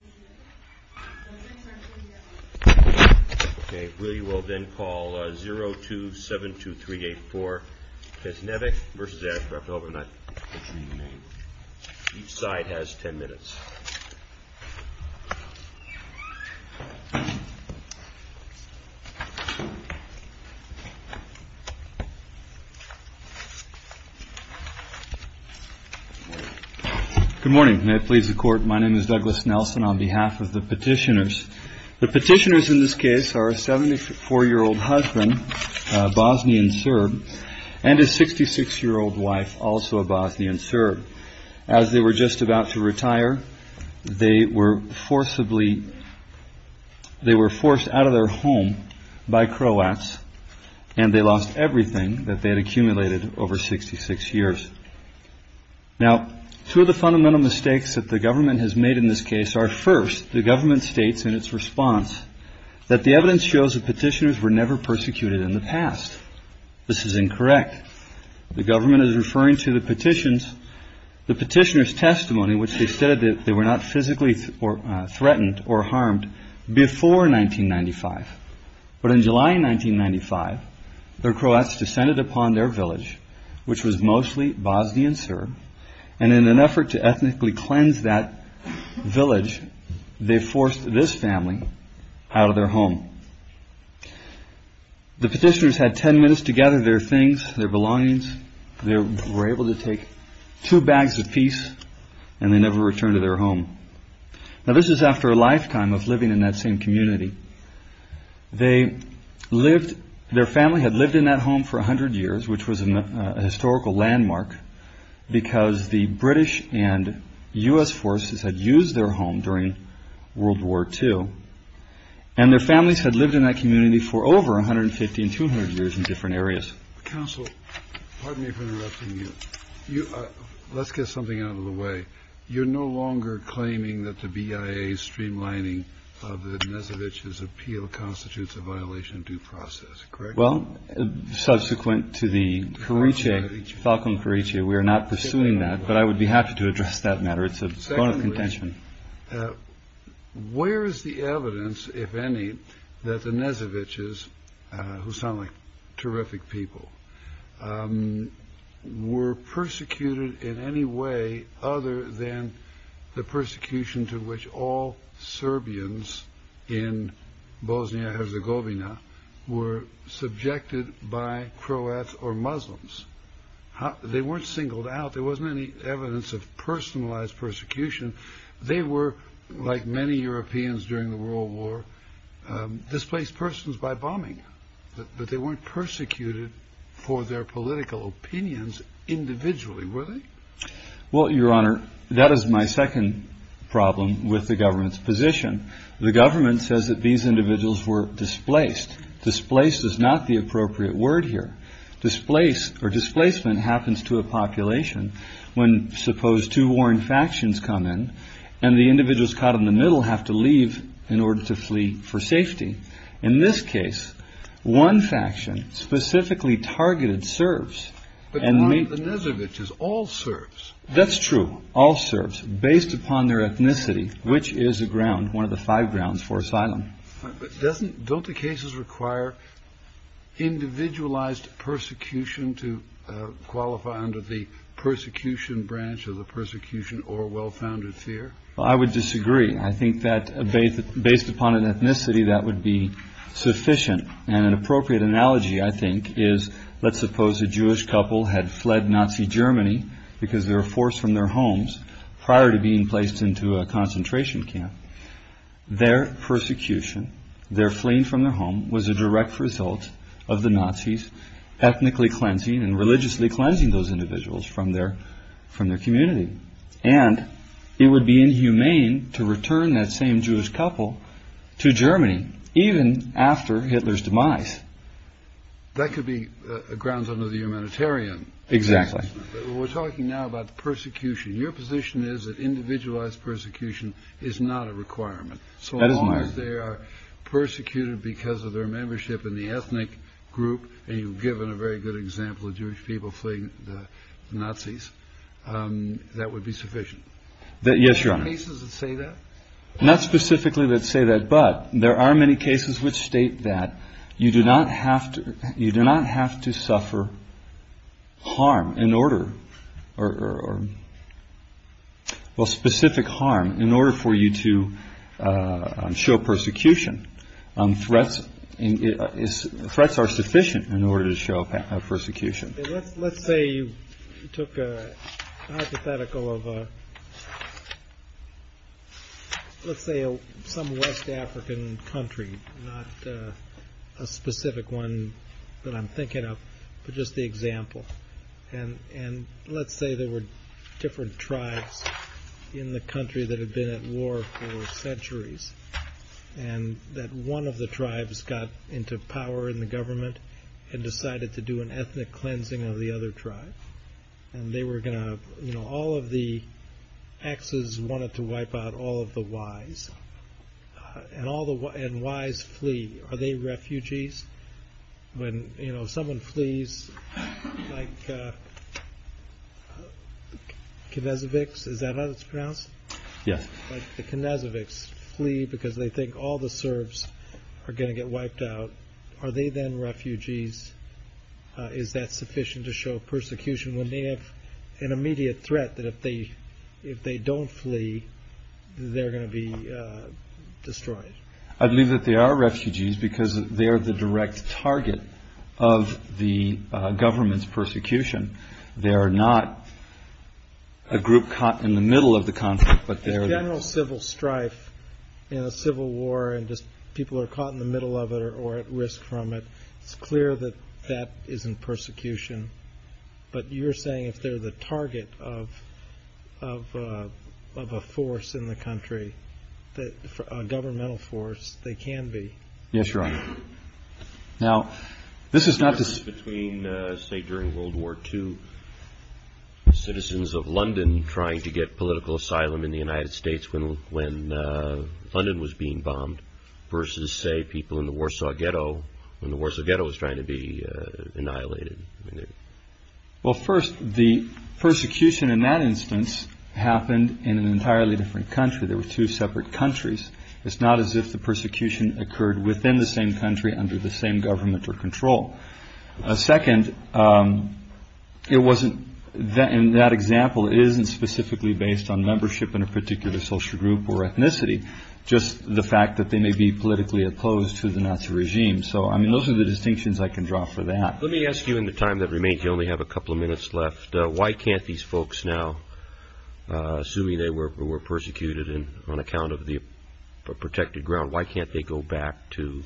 Good morning. May it please the Court, my name is Douglas Nelson. I'll be giving the case on behalf of the petitioners. The petitioners in this case are a 74-year-old husband, Bosnian Serb, and a 66-year-old wife, also a Bosnian Serb. As they were just about to retire, they were forcibly, they were forced out of their home by Croats and they lost everything that they had accumulated over 66 years. Now, two of the fundamental mistakes that the government has made in this case are, first, the government states in its response that the evidence shows that petitioners were never persecuted in the past. This is incorrect. The government is referring to the petitioner's testimony, which they stated that they were not physically threatened or harmed before 1995. But in July 1995, the Croats descended upon their village, which was mostly Bosnian Serb, and in an effort to ethnically cleanse that village, they forced this family out of their home. The petitioners had ten minutes to gather their things, their belongings. They were able to take two bags apiece and they never returned to their home. Now, this is after a lifetime of living in that same community. Their family had lived in that home for a hundred years, which was a historical landmark, because the British and U.S. forces had used their home during World War II, and their families had lived in that community for over 150 and 200 years in different areas. Counsel, pardon me for interrupting you. Let's get something out of the way. You're no longer claiming that the BIA streamlining of the Dnesevich's appeal constitutes a violation of due process, correct? Well, subsequent to the Falcone-Cariccia, we are not pursuing that, but I would be happy to address that matter. It's a point of contention. Where is the evidence, if any, that the Dnesevich's, who sound like terrific people, were persecuted in any way other than the persecution to which all Serbians in Bosnia-Herzegovina, which were subjected by Croats or Muslims? They weren't singled out. There wasn't any evidence of personalized persecution. They were, like many Europeans during the World War, displaced persons by bombing, but they weren't persecuted for their political opinions individually, were they? Well, Your Honor, that is my second problem with the government's position. The government says that these individuals were displaced. Displaced is not the appropriate word here. Displaced or displacement happens to a population when, suppose, two warring factions come in and the individuals caught in the middle have to leave in order to flee for safety. In this case, one faction, specifically targeted Serbs and Muslims. But the Dnesevich is all Serbs. That's true, all Serbs, based upon their ethnicity, which is a ground, one of the five grounds for asylum. Don't the cases require individualized persecution to qualify under the persecution branch or the persecution or well-founded fear? Well, I would disagree. I think that, based upon an ethnicity, that would be sufficient. An appropriate analogy, I think, is, let's say a Jewish couple had fled Nazi Germany because they were forced from their homes prior to being placed into a concentration camp. Their persecution, their fleeing from their home, was a direct result of the Nazis ethnically cleansing and religiously cleansing those individuals from their community. And it would be inhumane to return that same Jewish couple to Germany, even after Hitler's demise. That could be grounds under the humanitarian exactly. We're talking now about persecution. Your position is that individualized persecution is not a requirement. So long as they are persecuted because of their membership in the ethnic group, and you've given a very good example of Jewish people fleeing the Nazis, that would be sufficient. Yes, Your Honor. Are there cases that say that? Not specifically that say that, but there are many cases which state that you do not have to suffer harm, specific harm, in order for you to show persecution. Threats are sufficient in order to show persecution. Let's say you took a hypothetical of, let's say, some West African country, not a specific one that I'm thinking of, but just the example. And let's say there were different tribes in the country that had been at war for centuries, and that one of the tribes got into power in the government and decided to do an ethnic cleansing of the other tribe. And they were going to, you know, all of the Xs wanted to flee, and all the Ys flee. Are they refugees? When, you know, someone flees, like the Knezoviks flee because they think all the Serbs are going to get wiped out. Are they then refugees? Is that sufficient to show persecution when they have an immediate threat that if they don't flee, they're going to be destroyed? I believe that they are refugees because they are the direct target of the government's persecution. They are not a group caught in the middle of the conflict, but they are... General civil strife in a civil war and just people are caught in the middle of it or at risk from it, it's clear that that isn't persecution. But you're saying if they're the target of a force in the country, a governmental force, they can be? Yes, Your Honor. Now, this is not to say... Between, say, during World War II, citizens of London trying to get political asylum in the United States when London was being bombed versus, say, people in the Warsaw Ghetto when the Warsaw Ghetto was trying to be annihilated. Well, first, the persecution in that instance happened in an entirely different country. There were two separate countries. It's not as if the persecution occurred within the same country under the same government or control. Second, in that example, it isn't specifically based on membership in a particular social group or ethnicity, just the fact that they may be politically opposed to the Nazi regime. So, I mean, those are the distinctions I can draw for that. Let me ask you in the time that remains, you only have a couple of minutes left, why can't these folks now, assuming they were persecuted on account of the protected ground, why can't they go back to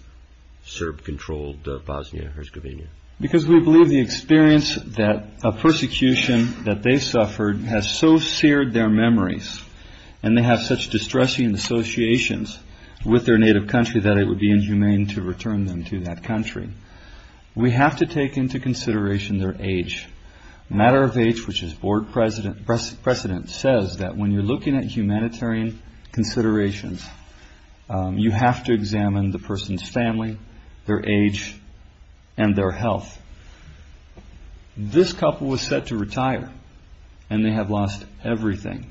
Serb-controlled Bosnia-Herzegovina? Because we believe the experience of persecution that they suffered has so seared their memories and they have such distressing associations with their native country that it would be necessary to take into consideration their age. Matter of Age, which is board precedent, says that when you're looking at humanitarian considerations, you have to examine the person's family, their age, and their health. This couple was set to retire and they have lost everything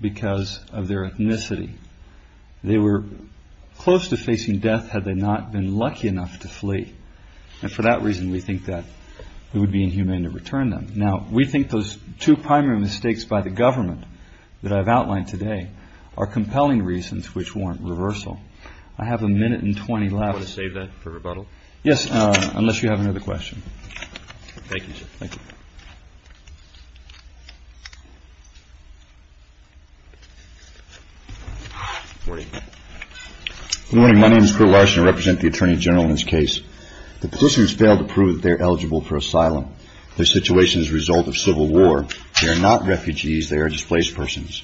because of their ethnicity. They were close to facing death had they not been lucky enough to flee. And for that reason, we think that it would be inhumane to return them. Now, we think those two primary mistakes by the government that I've outlined today are compelling reasons which warrant reversal. I have a minute and 20 left. Do you want to save that for rebuttal? Yes, unless you have another question. Thank you, sir. Thank you. Good morning. My name is Kurt Larson. I represent the Attorney General in this case. The police have failed to prove that they're eligible for asylum. Their situation is a result of civil war. They are not refugees. They are displaced persons.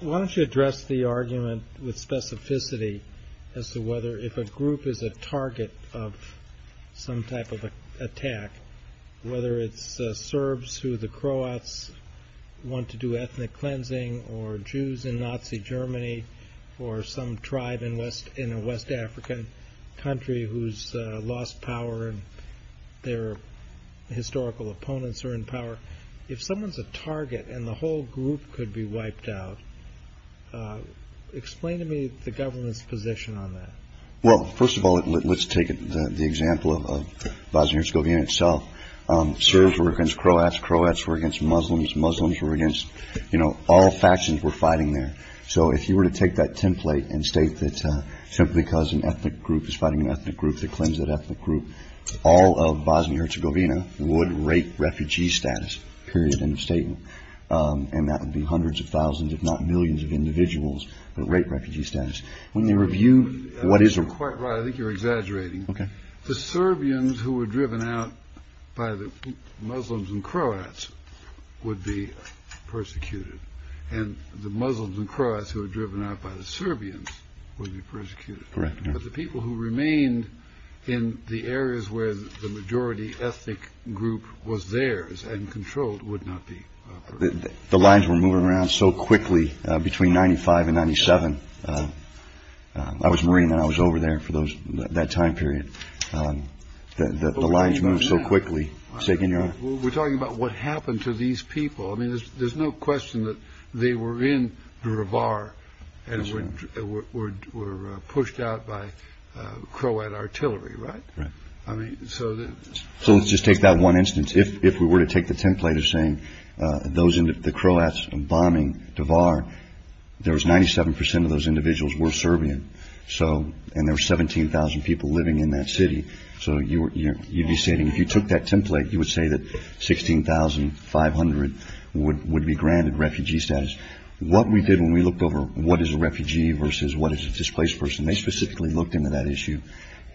Why don't you address the argument with specificity as to whether if a group is a target of some type of attack, whether it's Serbs who the Croats want to do ethnic cleansing or Jews in Nazi Germany or some tribe in a West African country who's lost power and their historical opponents are in power. If someone's a target and the whole group could be wiped out, explain to me the government's position on that. Well, first of all, let's take the example of Bosnia-Herzegovina itself. Serbs were against Croats. Croats were against Muslims. Muslims were against, you know, all factions were fighting there. So if you were to take that template and state that simply because an ethnic group is fighting an ethnic group, they cleanse that ethnic group, all of Bosnia-Herzegovina would rape refugee status, period, end of statement. And that would be hundreds of thousands, if not millions, of individuals that rape refugee status. I think you're quite right. I think you're exaggerating. Okay. The Serbians who were driven out by the Muslims and Croats would be persecuted. And the Muslims and Croats who were driven out by the Serbians would be persecuted. Correct. But the people who remained in the areas where the majority ethnic group was theirs and controlled would not be persecuted. The lines were moving around so quickly between 1995 and 1997. I was a Marine and I was over there for that time period. The lines moved so quickly. We're talking about what happened to these people. I mean, there's no question that they were in Dervar and were pushed out by Croat artillery, right? Right. So let's just take that one instance. If we were to take the template of saying the Croats bombing Dervar, there was 97% of those individuals were Serbian. And there were 17,000 people living in that city. So you'd be stating, if you took that template, you would say that 16,500 would be granted refugee status. What we did when we looked over what is a refugee versus what is a displaced person, they specifically looked into that issue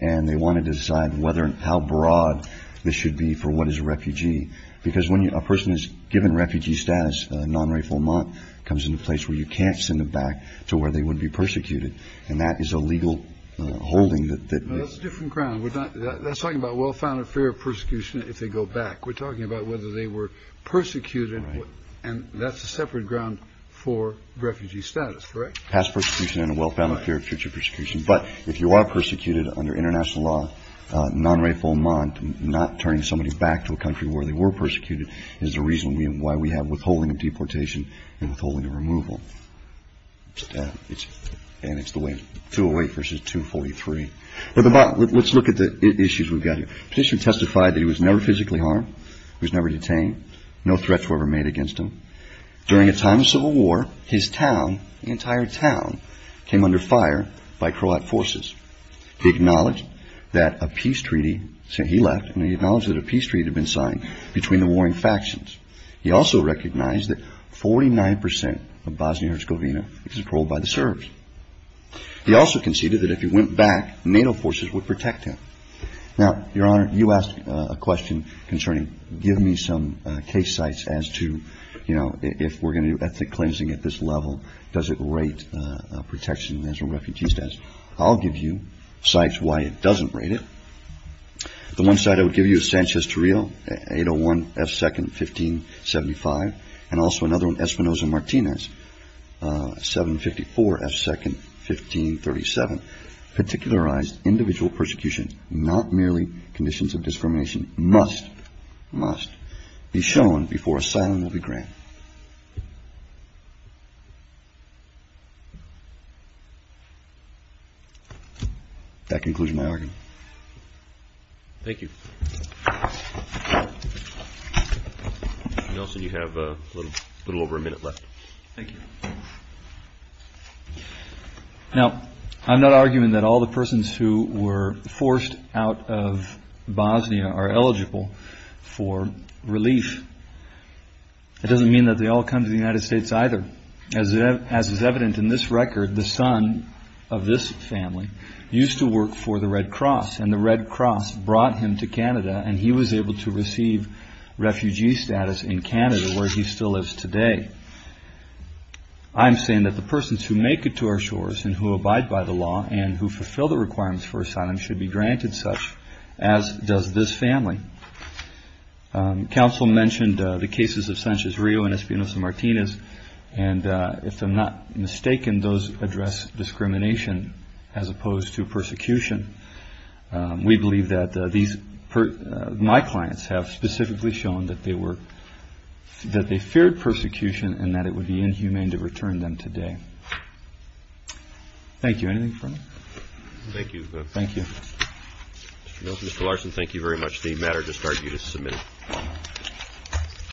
and they wanted to decide whether and how broad this should be for what is a refugee. Because when a person is given refugee status, non-rape or not, it comes into place where you can't send them back to where they would be persecuted. And that is a legal holding. That's a different ground. We're not talking about well-founded fear of persecution if they go back. We're talking about whether they were persecuted. And that's a separate ground for refugee status, correct? That's persecution and a well-founded fear of future persecution. But if you are persecuted under international law, non-rape or not, not turning somebody back to a country where they were persecuted is the reason why we have withholding of deportation and withholding of removal. And it's the way, 208 versus 243. Let's look at the issues we've got here. The petitioner testified that he was never physically harmed. He was never detained. No threats were ever made against him. During a time of civil war, his town, the entire town, came under fire by Croat forces. He acknowledged that a peace treaty, he left, and he acknowledged that a peace treaty had been signed between the warring factions. He also recognized that 49% of Bosnia-Herzegovina is controlled by the Serbs. He also conceded that if he went back, NATO forces would protect him. Now, Your Honor, you asked a question concerning give me some case sites as to, you know, if we're going to do ethnic cleansing at this level, does it rate protection as a refugee status? I'll give you sites why it doesn't rate it. The one site I would give you is Sanchez Torrio, 801 F. 2nd, 1575. And also another one, Espinosa Martinez, 754 F. 2nd, 1537. Particularized individual persecution, not merely conditions of discrimination, must, must be shown before asylum will be granted. That concludes my argument. Thank you. Nelson, you have a little over a minute left. Thank you. Now, I'm not arguing that all the persons who were forced out of Bosnia are eligible for relief. It doesn't mean that they all come to the United States either. As is evident in this record, the son of this family used to work for the Red Cross, and the Red Cross brought him to Canada, and he was able to receive refugee status in Canada, where he still lives today. I'm saying that the persons who make it to our shores and who abide by the law and who fulfill the requirements for asylum should be granted such, as does this family. Counsel mentioned the cases of Sanchez Rio and Espinosa Martinez, and if I'm not mistaken, those address discrimination as opposed to persecution. We believe that these, my clients have specifically shown that they were, that they feared persecution and that it would be inhumane to return them today. Thank you. Anything further? Thank you. Thank you. Mr. Nelson, Mr. Larson, thank you very much. The matter discard you to submit.